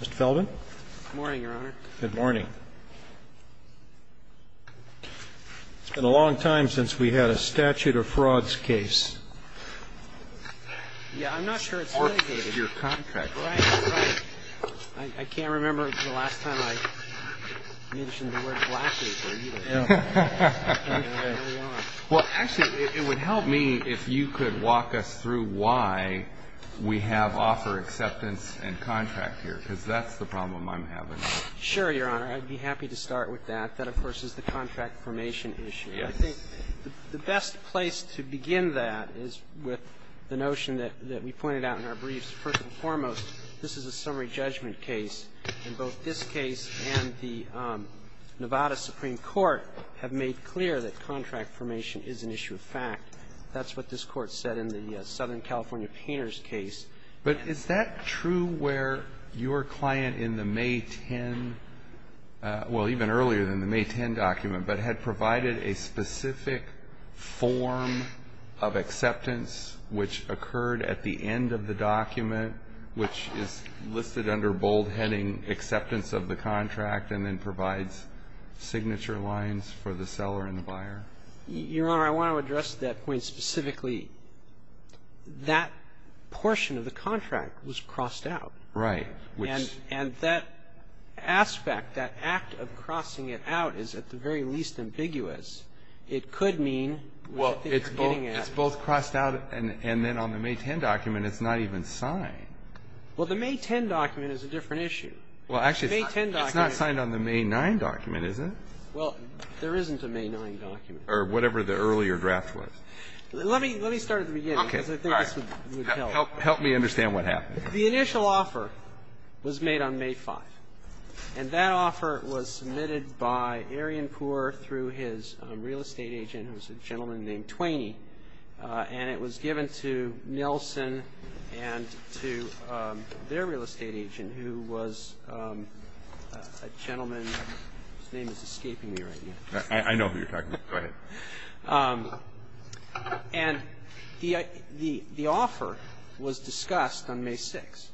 Mr. Feldman? Good morning, Your Honor. Good morning. It's been a long time since we had a statute of frauds case. Yeah, I'm not sure it's indicated. It's your contract. Right, right. I can't remember the last time I mentioned the word black paper, either. Well, actually, it would help me if you could walk us through why we have offer acceptance and contract here, because that's the problem I'm having. Sure, Your Honor. I'd be happy to start with that. That, of course, is the contract formation issue. I think the best place to begin that is with the notion that we pointed out in our briefs. First and foremost, this is a summary judgment case. In both this case and the Nevada Supreme Court have made clear that contract formation is an issue of fact. That's what this Court said in the Southern California Painters case. But is that true where your client in the May 10, well, even earlier than the May 10 document, but had provided a specific form of acceptance which occurred at the end of the document, which is listed under boldheading, acceptance of the contract, and then provides signature lines for the seller and the buyer? Your Honor, I want to address that point specifically. That portion of the contract was crossed out. Right. And that aspect, that act of crossing it out, is at the very least ambiguous. It could mean what I think you're getting at. Well, it's both crossed out and then on the May 10 document it's not even signed. Well, the May 10 document is a different issue. Well, actually, it's not signed on the May 9 document, is it? Well, there isn't a May 9 document. Or whatever the earlier draft was. Let me start at the beginning, because I think this would help. Help me understand what happened. The initial offer was made on May 5, and that offer was submitted by Arian Poore through his real estate agent, who was a gentleman named Twaney, and it was given to Nelson and to their real estate agent, who was a gentleman whose name is escaping me right now. I know who you're talking about. Go ahead. And the offer was discussed on May 6,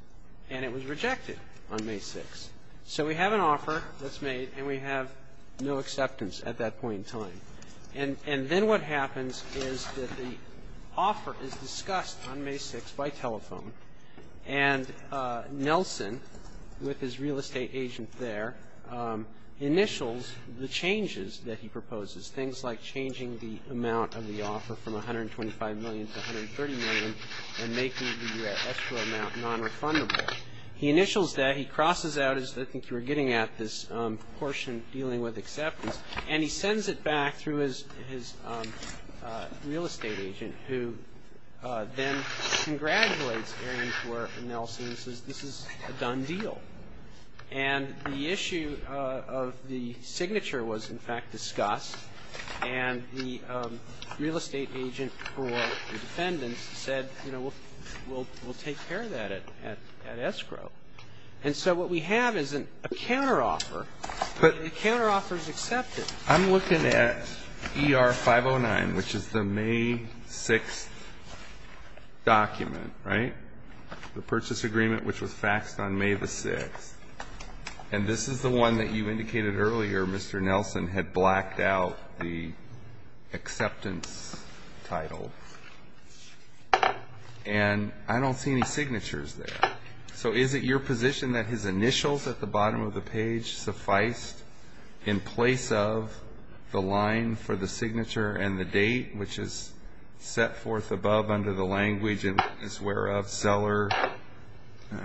and it was rejected on May 6. So we have an offer that's made, and we have no acceptance at that point in time. And then what happens is that the offer is discussed on May 6 by telephone, and Nelson, with his real estate agent there, initials the changes that he proposes, things like changing the amount of the offer from $125 million to $130 million and making the extra amount non-refundable. He initials that. He crosses out, as I think you were getting at, this portion dealing with acceptance, and he sends it back through his real estate agent, who then congratulates Arian Poore and Nelson and says, this is a done deal. And the issue of the signature was, in fact, discussed, and the real estate agent for the defendants said, you know, we'll take care of that at escrow. And so what we have is a counteroffer, and the counteroffer is accepted. I'm looking at ER 509, which is the May 6 document, right, the purchase agreement which was faxed on May 6. And this is the one that you indicated earlier Mr. Nelson had blacked out the acceptance title. And I don't see any signatures there. So is it your position that his initials at the bottom of the page suffice in place of the line for the signature and the date, which is set forth above under the language and whereof seller,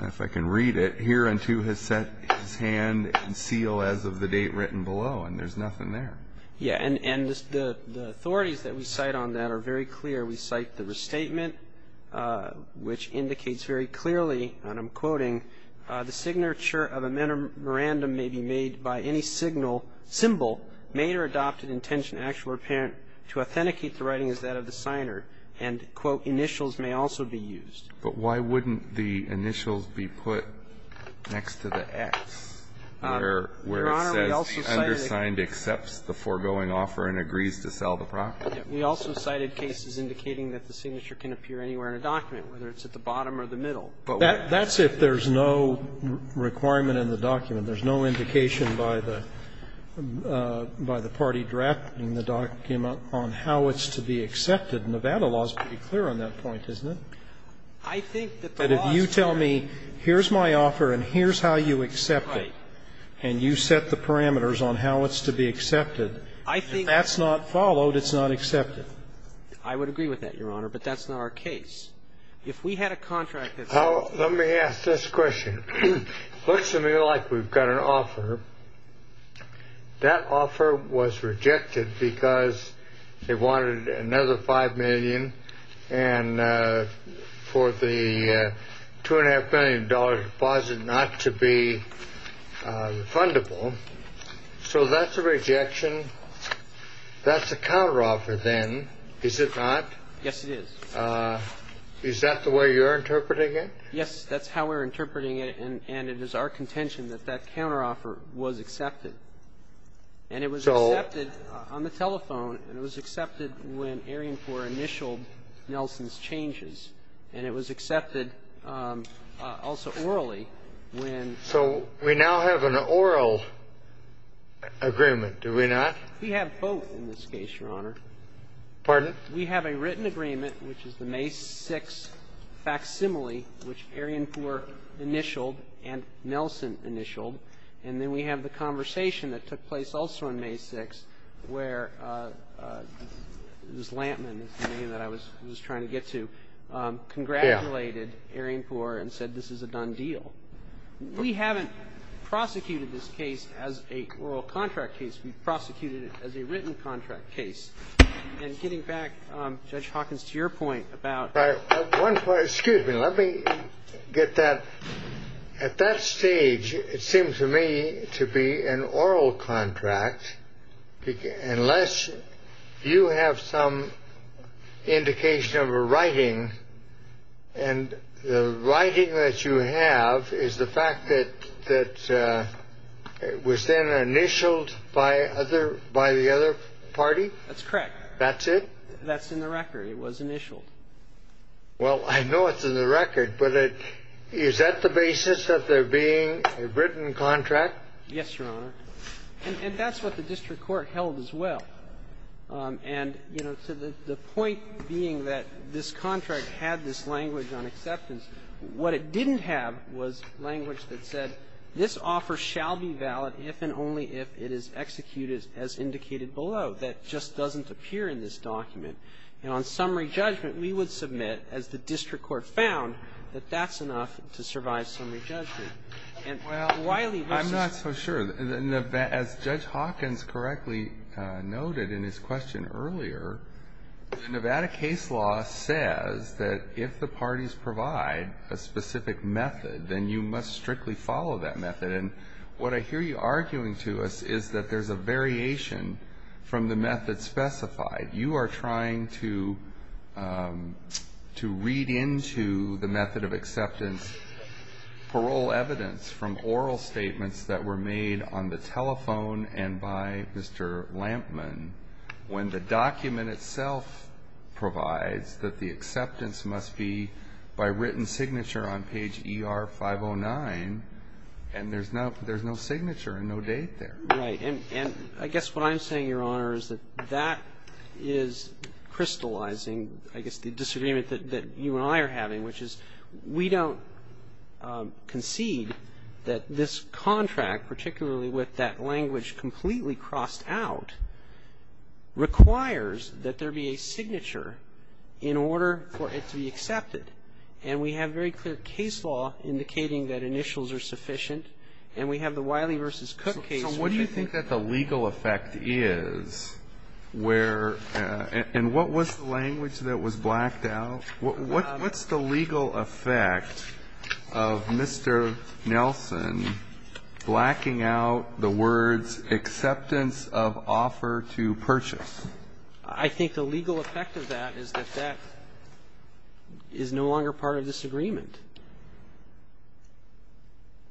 if I can read it, here unto his hand and seal as of the date written below? And there's nothing there. Yeah, and the authorities that we cite on that are very clear. We cite the restatement, which indicates very clearly, and I'm quoting, the signature of a memorandum may be made by any signal, symbol, made or adopted, intention, actual or apparent, to authenticate the writing as that of the signer. And, quote, initials may also be used. But why wouldn't the initials be put next to the X where it says the undersigned accepts the foregoing offer and agrees to sell the property? We also cited cases indicating that the signature can appear anywhere in a document, whether it's at the bottom or the middle. That's if there's no requirement in the document. There's no indication by the party drafting the document on how it's to be accepted. Nevada law is pretty clear on that point, isn't it? I think that the law is clear. But if you tell me here's my offer and here's how you accept it, and you set the parameters on how it's to be accepted, if that's not followed, it's not accepted. I would agree with that, Your Honor, but that's not our case. If we had a contract that says- Let me ask this question. Looks to me like we've got an offer. That offer was rejected because they wanted another $5 million and for the $2.5 million deposit not to be refundable. So that's a rejection. That's a counteroffer then, is it not? Yes, it is. Is that the way you're interpreting it? Yes, that's how we're interpreting it. And it is our contention that that counteroffer was accepted. And it was accepted- So- On the telephone. And it was accepted when airing for initial Nelson's changes. And it was accepted also orally when- So we now have an oral agreement, do we not? We have both in this case, Your Honor. Pardon? We have a written agreement, which is the May 6th facsimile, which Arianpour initialed and Nelson initialed. And then we have the conversation that took place also on May 6th where Ms. Lampman, the name that I was trying to get to- Yeah. Congratulated Arianpour and said this is a done deal. We haven't prosecuted this case as a oral contract case. We've prosecuted it as a written contract case. And getting back, Judge Hawkins, to your point about- Excuse me. Let me get that. At that stage, it seemed to me to be an oral contract unless you have some indication of a writing. And the writing that you have is the fact that it was then initialed by the other party? That's correct. That's it? That's in the record. It was initialed. Well, I know it's in the record, but is that the basis of there being a written contract? Yes, Your Honor. And that's what the district court held as well. And, you know, to the point being that this contract had this language on acceptance, what it didn't have was language that said this offer shall be valid if and only if it is executed as indicated below. That just doesn't appear in this document. And on summary judgment, we would submit, as the district court found, that that's enough to survive summary judgment. And, Wiley, this is- Well, I'm not so sure. As Judge Hawkins correctly noted in his question earlier, the Nevada case law says that if the parties provide a specific method, then you must strictly follow that method. And what I hear you arguing to us is that there's a variation from the method specified. You are trying to read into the method of acceptance parole evidence from oral statements that were made on the telephone and by Mr. Lampman when the document itself provides that the acceptance must be by written signature on page ER-509, and there's no signature and no date there. Right. And I guess what I'm saying, Your Honor, is that that is crystallizing, I guess, the disagreement that you and I are having, which is we don't concede that this contract, particularly with that language completely crossed out, requires that there be a signature in order for it to be accepted. And we have very clear case law indicating that initials are sufficient. And we have the Wiley v. Cook case- So what do you think that the legal effect is where --? And what was the language that was blacked out? What's the legal effect of Mr. Nelson blacking out the words acceptance of offer to purchase? I think the legal effect of that is that that is no longer part of this agreement.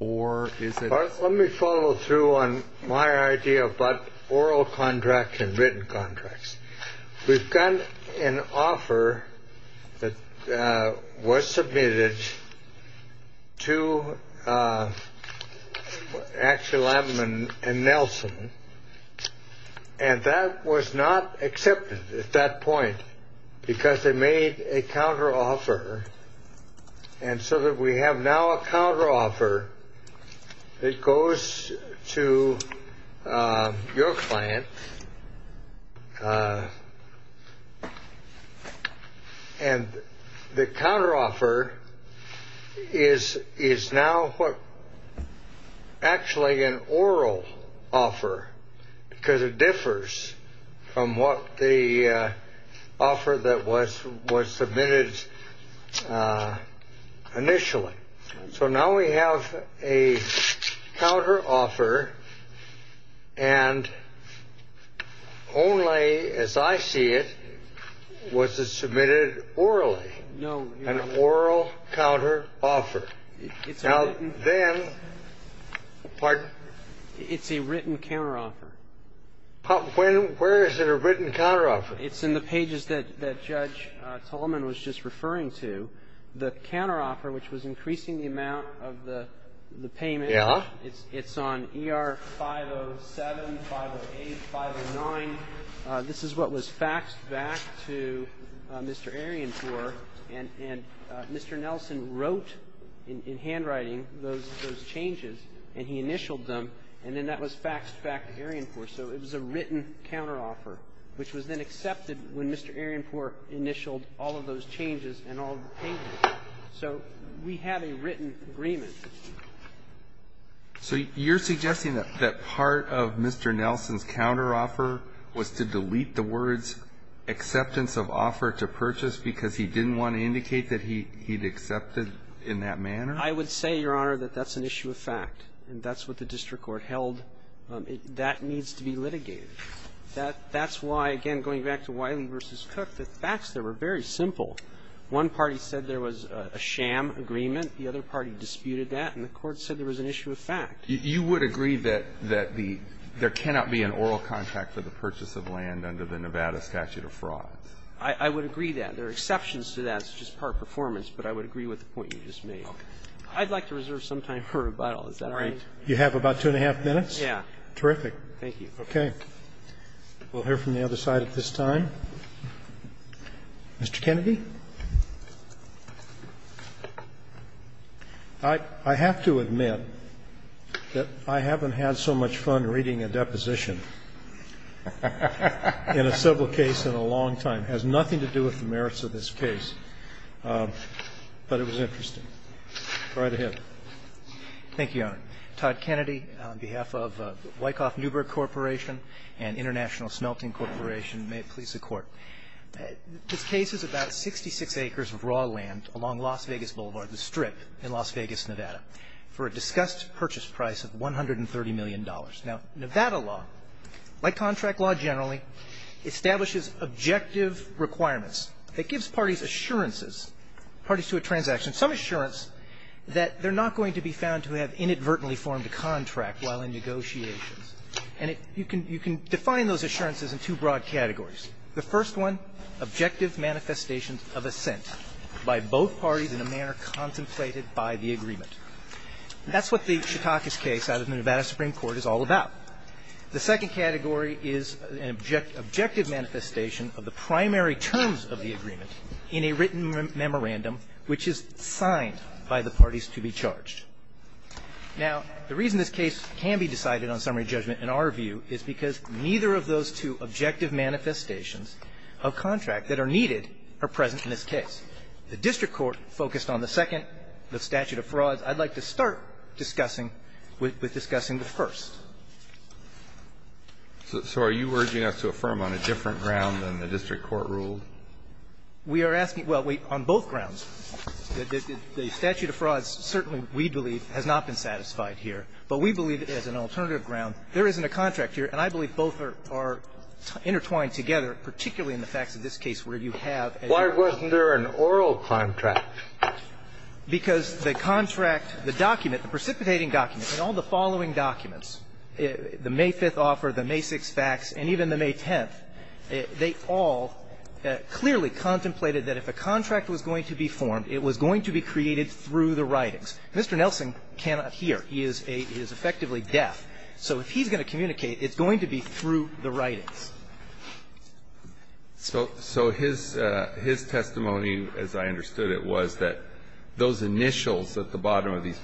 Or is it- Let me follow through on my idea about oral contracts and written contracts. We've got an offer that was submitted to actually Lampman and Nelson, and that was not accepted at that point because they made a counteroffer. And so that we have now a counteroffer that goes to your client. And the counteroffer is now actually an oral offer because it differs from what the offer that was submitted initially. So now we have a counteroffer and only, as I see it, was it submitted orally. No. An oral counteroffer. Now, then- It's a written counteroffer. Where is it a written counteroffer? It's in the pages that Judge Tolman was just referring to. The counteroffer, which was increasing the amount of the payment- Yeah. It's on ER 507, 508, 509. This is what was faxed back to Mr. Arienpour. And Mr. Nelson wrote in handwriting those changes, and he initialed them. And then that was faxed back to Arienpour. So it was a written counteroffer, which was then accepted when Mr. Arienpour initialed all of those changes and all of the payments. So we have a written agreement. So you're suggesting that part of Mr. Nelson's counteroffer was to delete the words acceptance of offer to purchase because he didn't want to indicate that he'd accepted in that manner? I would say, Your Honor, that that's an issue of fact. And that's what the district court held. That needs to be litigated. That's why, again, going back to Wiley v. Cook, the facts there were very simple. One party said there was a sham agreement. The other party disputed that. And the court said there was an issue of fact. You would agree that there cannot be an oral contract for the purchase of land under the Nevada statute of fraud? I would agree that. There are exceptions to that. It's just part performance. But I would agree with the point you just made. I'd like to reserve some time for rebuttal. Is that all right? You have about two and a half minutes? Yeah. Terrific. Thank you. Okay. We'll hear from the other side at this time. Mr. Kennedy? I have to admit that I haven't had so much fun reading a deposition in a civil case in a long time. It has nothing to do with the merits of this case. But it was interesting. Right ahead. Thank you, Your Honor. I'm Todd Kennedy on behalf of Wyckoff Newberg Corporation and International Smelting Corporation. May it please the Court. This case is about 66 acres of raw land along Las Vegas Boulevard, the strip in Las Vegas, Nevada, for a discussed purchase price of $130 million. Now, Nevada law, like contract law generally, establishes objective requirements that gives parties assurances, parties to a transaction, some assurance that they're not going to be found to have inadvertently formed a contract while in negotiations. And you can define those assurances in two broad categories. The first one, objective manifestations of assent by both parties in a manner contemplated by the agreement. That's what the Chautauquas case out of the Nevada Supreme Court is all about. The second category is an objective manifestation of the primary terms of the agreement in a written memorandum which is signed by the parties to be charged. Now, the reason this case can be decided on summary judgment, in our view, is because neither of those two objective manifestations of contract that are needed are present in this case. The district court focused on the second, the statute of frauds. I'd like to start discussing with discussing the first. So are you urging us to affirm on a different ground than the district court ruled? We are asking, well, wait, on both grounds. The statute of frauds certainly, we believe, has not been satisfied here. But we believe, as an alternative ground, there isn't a contract here. And I believe both are intertwined together, particularly in the facts of this case where you have, as you say, a contract. Why wasn't there an oral contract? Because the contract, the document, the precipitating document, and all the following documents, the May 5th offer, the May 6 facts, and even the May 10th, they all clearly contemplated that if a contract was going to be formed, it was going to be created through the writings. Mr. Nelson cannot hear. He is effectively deaf. So if he's going to communicate, it's going to be through the writings. So his testimony, as I understood it, was that those initials at the bottom of these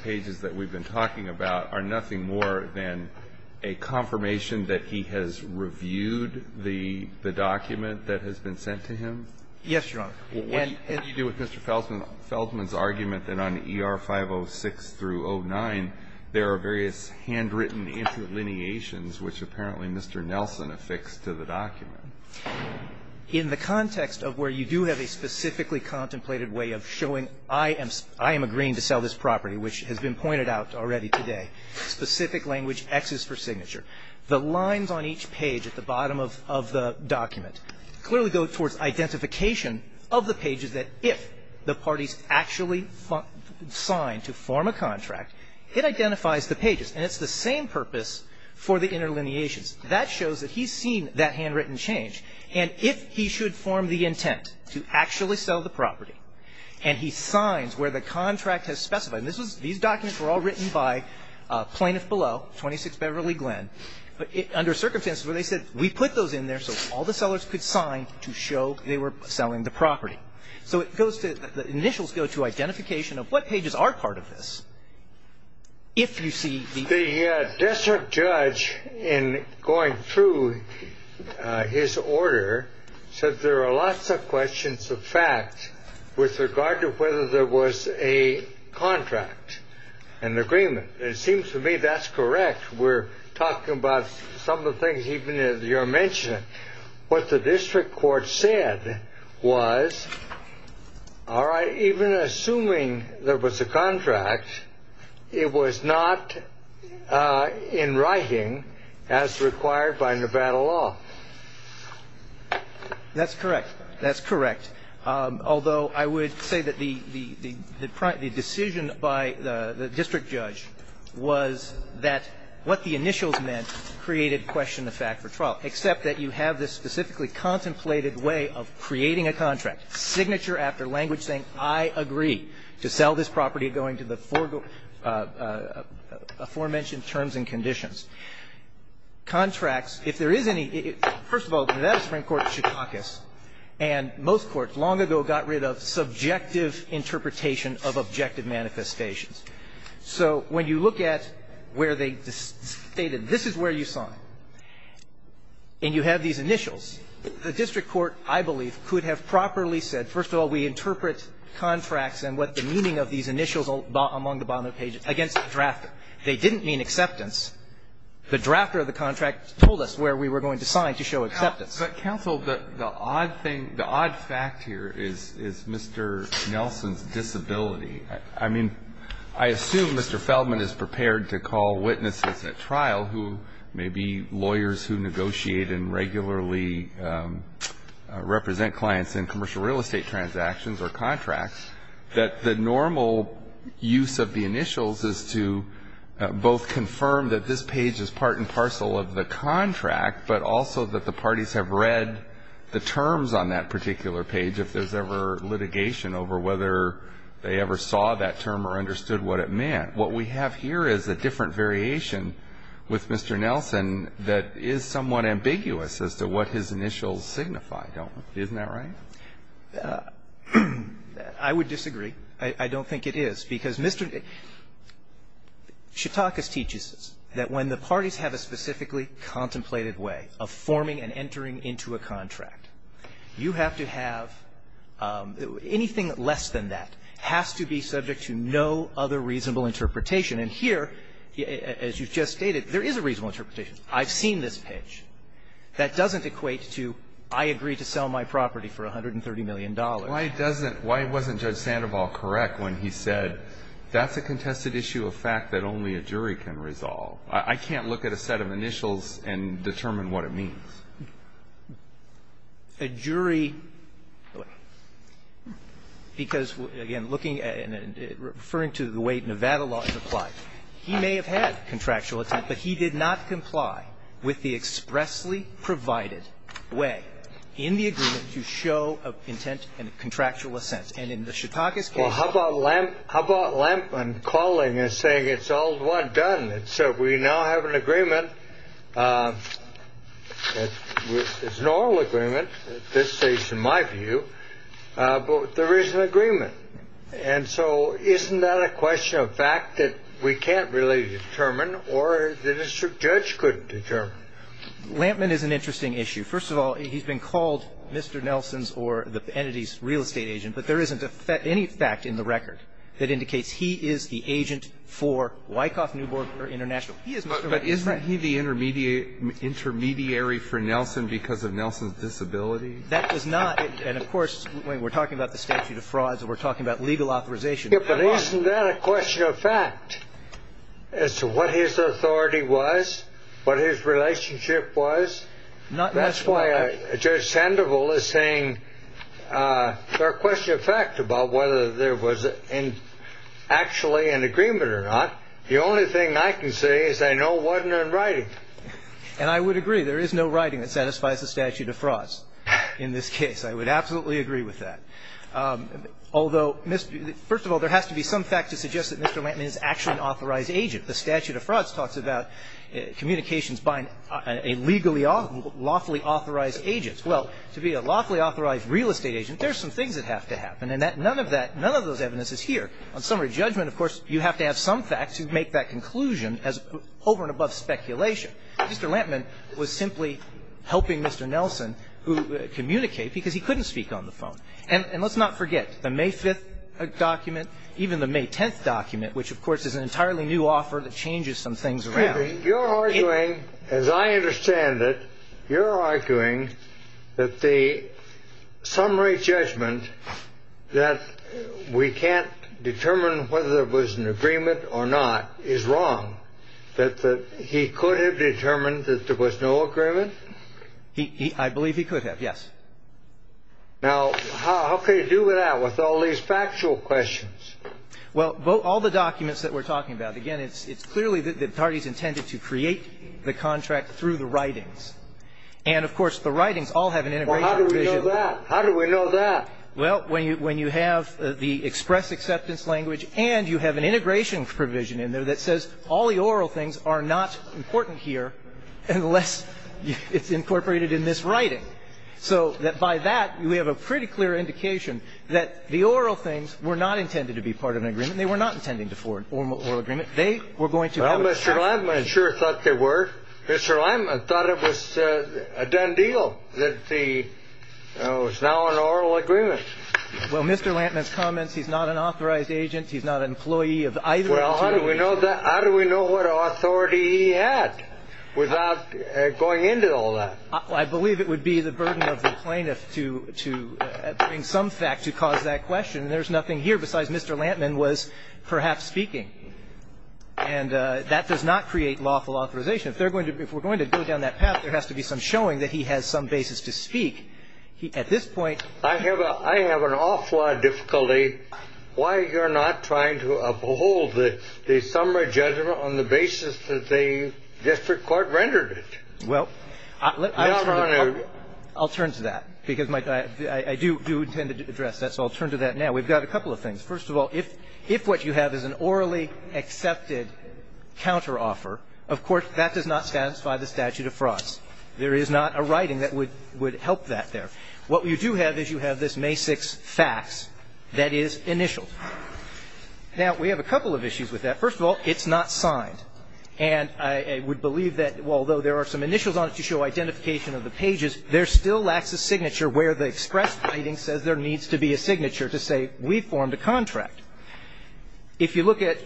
a confirmation that he has reviewed the document that has been sent to him? Yes, Your Honor. What did you do with Mr. Feldman's argument that on ER 506 through 09, there are various handwritten interlineations which apparently Mr. Nelson affixed to the document? In the context of where you do have a specifically contemplated way of showing I am agreeing to sell this property, which has been pointed out already today. Specific language, X is for signature. The lines on each page at the bottom of the document clearly go towards identification of the pages that if the parties actually sign to form a contract, it identifies the pages. And it's the same purpose for the interlineations. That shows that he's seen that handwritten change. And if he should form the intent to actually sell the property, and he signs where the contract has specified, and these documents were all written by plaintiff below, 26 Beverly Glen. But under circumstances where they said we put those in there so all the sellers could sign to show they were selling the property. So it goes to the initials go to identification of what pages are part of this. If you see. The district judge in going through his order said there are lots of questions of fact with regard to whether there was a contract and agreement. It seems to me that's correct. We're talking about some of the things even as you're mentioning. What the district court said was, all right, even assuming there was a contract, it was not in writing as required by Nevada law. That's correct. That's correct. Although I would say that the decision by the district judge was that what the initials meant created question of fact for trial, except that you have this specifically contemplated way of creating a contract, signature after language saying, I agree to sell this property going to the aforementioned terms and conditions. Contracts, if there is any, first of all, Nevada Supreme Court should caucus. And most courts long ago got rid of subjective interpretation of objective manifestations. So when you look at where they stated this is where you sign and you have these initials, the district court, I believe, could have properly said, first of all, we interpret contracts and what the meaning of these initials among the bottom of the page against the drafter. They didn't mean acceptance. The drafter of the contract told us where we were going to sign to show acceptance. But, counsel, the odd thing, the odd fact here is Mr. Nelson's disability. I mean, I assume Mr. Feldman is prepared to call witnesses at trial who may be lawyers who negotiate and regularly represent clients in commercial real estate transactions or contracts, that the normal use of the initials is to both confirm that this page is part and parcel of the contract, but also that the parties have read the terms on that particular page, if there's ever litigation over whether they ever saw that term or understood what it meant. What we have here is a different variation with Mr. Nelson that is somewhat ambiguous as to what his initials signify, don't they? Isn't that right? I would disagree. I don't think it is. Because Mr. Nelson, Shatakis teaches us that when the parties have a specifically contemplated way of forming and entering into a contract, you have to have anything less than that has to be subject to no other reasonable interpretation. And here, as you've just stated, there is a reasonable interpretation. I've seen this page. That doesn't equate to I agree to sell my property for $130 million. Why doesn't why wasn't Judge Sandoval correct when he said that's a contested issue of fact that only a jury can resolve? I can't look at a set of initials and determine what it means. A jury, because, again, looking at and referring to the way Nevada law is applied, he may have had contractual intent, but he did not comply with the expressly provided way in the agreement to show intent and contractual assent. And in the Shatakis case ---- Well, how about Lampman calling and saying it's all one done? We now have an agreement. It's a normal agreement at this stage, in my view. But there is an agreement. And so isn't that a question of fact that we can't really determine or the district judge couldn't determine? Lampman is an interesting issue. First of all, he's been called Mr. Nelson's or the entity's real estate agent, but there isn't any fact in the record that indicates he is the agent for Wyckoff Newport International. He is Mr. Lampman's friend. But isn't he the intermediary for Nelson because of Nelson's disability? That was not ---- and, of course, we're talking about the statute of frauds and we're talking about legal authorization. But isn't that a question of fact as to what his authority was, what his relationship was? Not necessarily. That's why Judge Sandoval is saying there are questions of fact about whether there was actually an agreement or not. The only thing I can say is I know it wasn't in writing. And I would agree. There is no writing that satisfies the statute of frauds in this case. I would absolutely agree with that. Although, first of all, there has to be some fact to suggest that Mr. Lampman is actually an authorized agent. The statute of frauds talks about communications by a legally lawfully authorized agent. Well, to be a lawfully authorized real estate agent, there are some things that have to happen. And none of that, none of those evidence is here. On summary judgment, of course, you have to have some fact to make that conclusion as over and above speculation. Mr. Lampman was simply helping Mr. Nelson communicate because he couldn't speak on the phone. And let's not forget the May 5th document, even the May 10th document, which, of course, is an entirely new offer that changes some things around. You're arguing, as I understand it, you're arguing that the summary judgment that we can't determine whether there was an agreement or not is wrong, that he could have determined that there was no agreement? I believe he could have, yes. Now, how can you do that with all these factual questions? Well, all the documents that we're talking about, again, it's clearly that the parties intended to create the contract through the writings. And, of course, the writings all have an integration provision. Well, how do we know that? How do we know that? Well, when you have the express acceptance language and you have an integration provision in there that says all the oral things are not important here unless it's incorporated in this writing. So that by that, we have a pretty clear indication that the oral things were not intended to be part of an agreement. They were not intending to form an oral agreement. They were going to have a contract. Well, Mr. Lantman sure thought they were. Mr. Lantman thought it was a done deal that the ñ it was now an oral agreement. Well, Mr. Lantman's comments, he's not an authorized agent. He's not an employee of either of the two agencies. Well, how do we know that? How do we know what authority he had without going into all that? I believe it would be the burden of the plaintiff to bring some fact to cause that question. And there's nothing here besides Mr. Lantman was perhaps speaking. And that does not create lawful authorization. If they're going to ñ if we're going to go down that path, there has to be some showing that he has some basis to speak. At this point ñ I have a ñ I have an awful lot of difficulty why you're not trying to uphold the summary judgment on the basis that the district court rendered it. Well, let me turn to the court ñ Your Honor. I'll turn to that because my ñ I do intend to address that. So I'll turn to that now. We've got a couple of things. First of all, if what you have is an orally accepted counteroffer, of course, that does not satisfy the statute of frauds. There is not a writing that would help that there. What you do have is you have this May 6 fax that is initialed. Now, we have a couple of issues with that. First of all, it's not signed. And I would believe that although there are some initials on it to show identification of the pages, there still lacks a signature where the express writing says there needs to be a signature to say we formed a contract. If you look at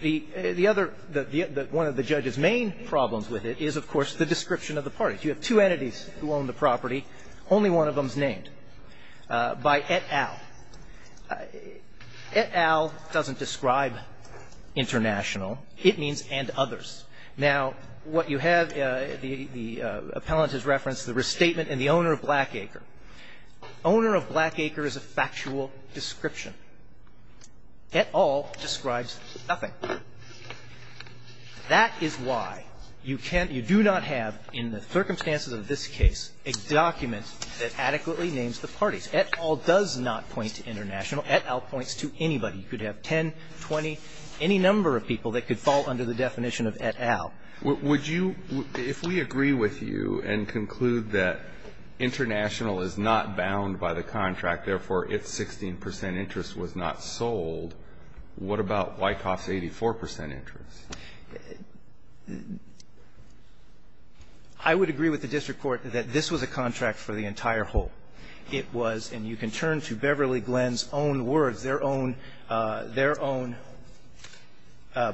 the other ñ one of the judge's main problems with it is, of course, the description of the parties. You have two entities who own the property. Only one of them is named, by et al. Et al doesn't describe international. It means and others. Now, what you have ñ the appellant has referenced the restatement and the owner of Blackacre. Owner of Blackacre is a factual description. Et al. describes nothing. That is why you can't ñ you do not have in the circumstances of this case a document that adequately names the parties. Et al. does not point to international. points to anybody. You could have 10, 20, any number of people that could fall under the definition of et al. Would you ñ if we agree with you and conclude that international is not bound by the contract, therefore, its 16 percent interest was not sold, what about Wyckoff's 84 percent interest? I would agree with the district court that this was a contract for the entire whole. It was ñ and you can turn to Beverly Glenn's own words, their own ñ their own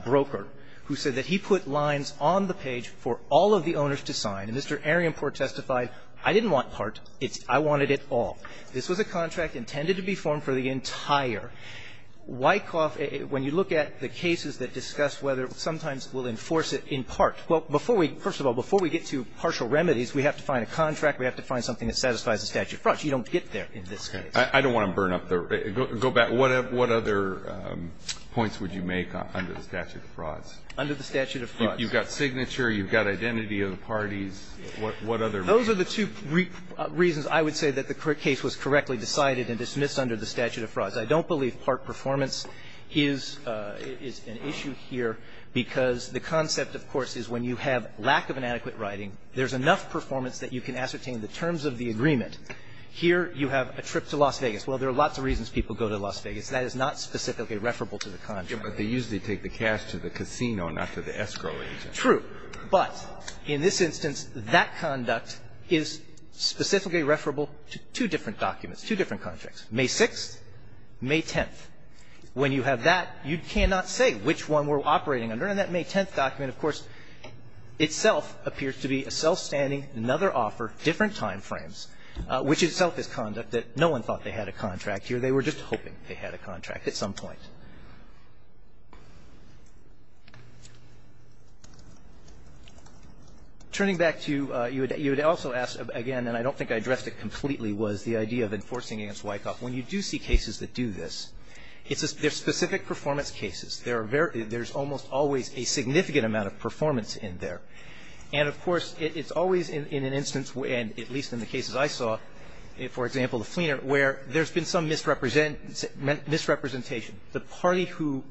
broker, who said that he put lines on the page for all of the owners to sign. And Mr. Arienport testified, I didn't want part. I wanted it all. This was a contract intended to be formed for the entire. Wyckoff, when you look at the cases that discuss whether sometimes we'll enforce it in part ñ well, before we ñ first of all, before we get to partial remedies, we have to find a contract. We have to find something that satisfies the statute of frauds. You don't get there in this case. I don't want to burn up the ñ go back. What other points would you make under the statute of frauds? Under the statute of frauds. You've got signature. You've got identity of the parties. What other reasons? Those are the two reasons I would say that the case was correctly decided and dismissed under the statute of frauds. I don't believe part performance is an issue here, because the concept, of course, is when you have lack of an adequate writing, there's enough performance that you can ascertain the terms of the agreement. Here you have a trip to Las Vegas. Well, there are lots of reasons people go to Las Vegas. That is not specifically referable to the contract. But they usually take the cash to the casino, not to the escrow agent. True. But in this instance, that conduct is specifically referable to two different documents, two different contracts, May 6th, May 10th. When you have that, you cannot say which one we're operating under. And in that May 10th document, of course, itself appears to be a self-standing, another offer, different time frames, which itself is conduct that no one thought they had a contract here. They were just hoping they had a contract at some point. Turning back to you, you would also ask again, and I don't think I addressed it completely, was the idea of enforcing against Wyckoff. When you do see cases that do this, it's a specific performance cases. There are almost always a significant amount of performance in there. And, of course, it's always in an instance, at least in the cases I saw, for example, the Fleener, where there's been some misrepresentation. The party who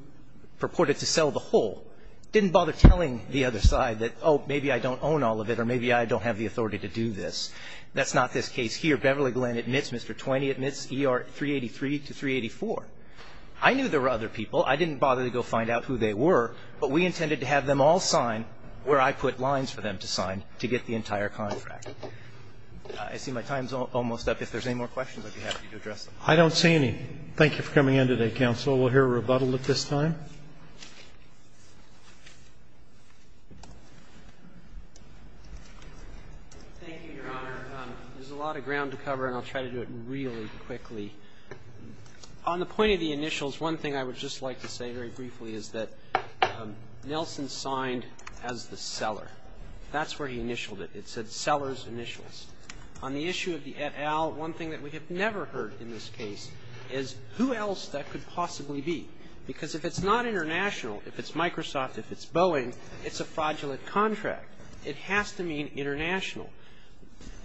purported to sell the whole didn't bother telling the other side that, oh, maybe I don't own all of it or maybe I don't have the authority to do this. That's not this case here. Beverly Glenn admits, Mr. Twain admits, ER 383 to 384. I knew there were other people. I didn't bother to go find out who they were, but we intended to have them all sign where I put lines for them to sign to get the entire contract. I see my time's almost up. If there's any more questions, I'd be happy to address them. I don't see any. Thank you for coming in today, counsel. We'll hear a rebuttal at this time. Thank you, Your Honor. There's a lot of ground to cover, and I'll try to do it really quickly. On the point of the initials, one thing I would just like to say very briefly is that Nelson signed as the seller. That's where he initialed it. It said seller's initials. On the issue of the et al., one thing that we have never heard in this case is who else that could possibly be, because if it's not international, if it's Microsoft, if it's Boeing, it's a fraudulent contract. It has to mean international.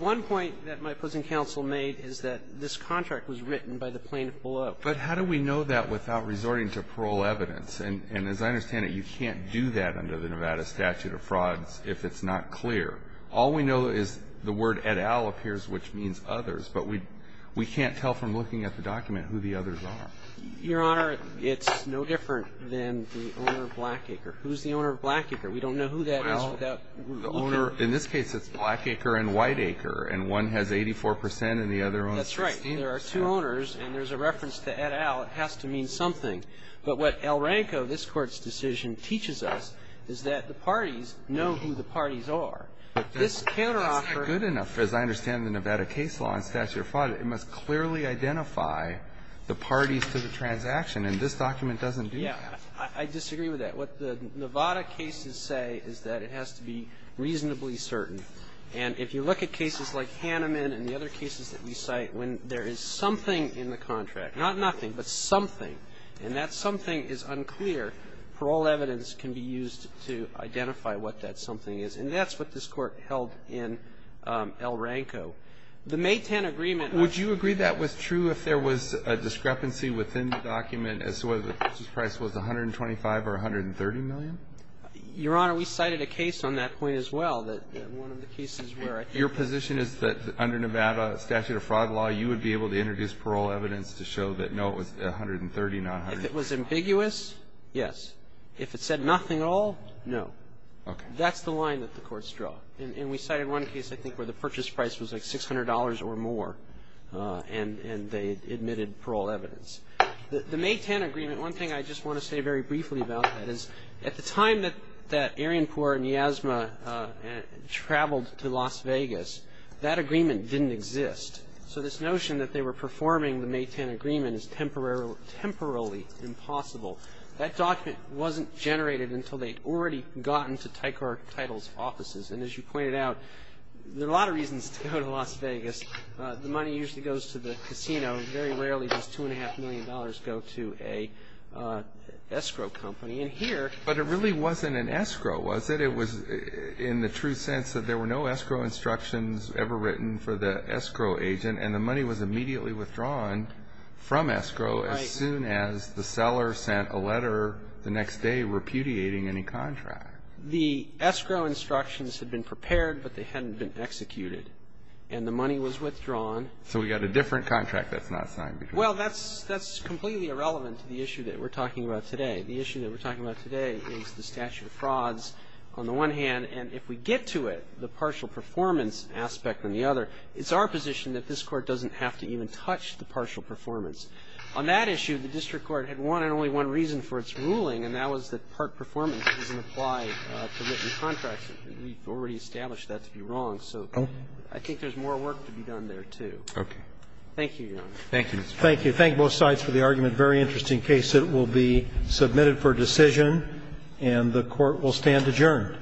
One point that my opposing counsel made is that this contract was written by the plaintiff below. But how do we know that without resorting to parole evidence? And as I understand it, you can't do that under the Nevada Statute of Frauds if it's not clear. All we know is the word et al. appears, which means others, but we can't tell from looking at the document who the others are. Your Honor, it's no different than the owner of Blackacre. Who's the owner of Blackacre? We don't know who that is without looking. In this case, it's Blackacre and Whiteacre, and one has 84 percent and the other has 16 percent. That's right. There are two owners, and there's a reference to et al. It has to mean something. But what El Ranco, this Court's decision, teaches us is that the parties know who the parties are. But this counteroffer. That's not good enough, as I understand the Nevada case law and statute of fraud. It must clearly identify the parties to the transaction, and this document doesn't do that. Yeah. I disagree with that. What the Nevada cases say is that it has to be reasonably certain. And if you look at cases like Hanneman and the other cases that we cite, when there is something in the contract, not nothing, but something, and that something is unclear, parole evidence can be used to identify what that something is. And that's what this Court held in El Ranco. The May 10 agreement. Would you agree that was true if there was a discrepancy within the document as to whether the purchase price was $125 or $130 million? Your Honor, we cited a case on that point as well, that one of the cases where I think Your position is that under Nevada statute of fraud law, you would be able to introduce parole evidence to show that, no, it was $130, not $130. If it was ambiguous, yes. If it said nothing at all, no. Okay. That's the line that the courts draw. And we cited one case, I think, where the purchase price was like $600 or more, and they admitted parole evidence. The May 10 agreement, one thing I just want to say very briefly about that is, at the time that Arianpour and Yasma traveled to Las Vegas, that agreement didn't exist. So this notion that they were performing the May 10 agreement is temporarily impossible. That document wasn't generated until they'd already gotten to Tycor Title's offices. And as you pointed out, there are a lot of reasons to go to Las Vegas. The money usually goes to the casino. Very rarely does $2.5 million go to an escrow company. And here But it really wasn't an escrow, was it? It was in the true sense that there were no escrow instructions ever written for the escrow agent, and the money was immediately withdrawn from escrow as soon as the seller sent a letter the next day repudiating any contract. The escrow instructions had been prepared, but they hadn't been executed. And the money was withdrawn. So we've got a different contract that's not signed. Well, that's completely irrelevant to the issue that we're talking about today. The issue that we're talking about today is the statute of frauds on the one hand, and if we get to it, the partial performance aspect on the other, it's our position that this Court doesn't have to even touch the partial performance. On that issue, the district court had one and only one reason for its ruling, and that was that part performance doesn't apply to written contracts. We've already established that to be wrong. So I think there's more work to be done there, too. Thank you, Your Honor. Thank you, Mr. Chief Justice. Thank you. Thank you. Thank you both sides for the argument. Very interesting case. It will be submitted for decision, and the Court will stand adjourned.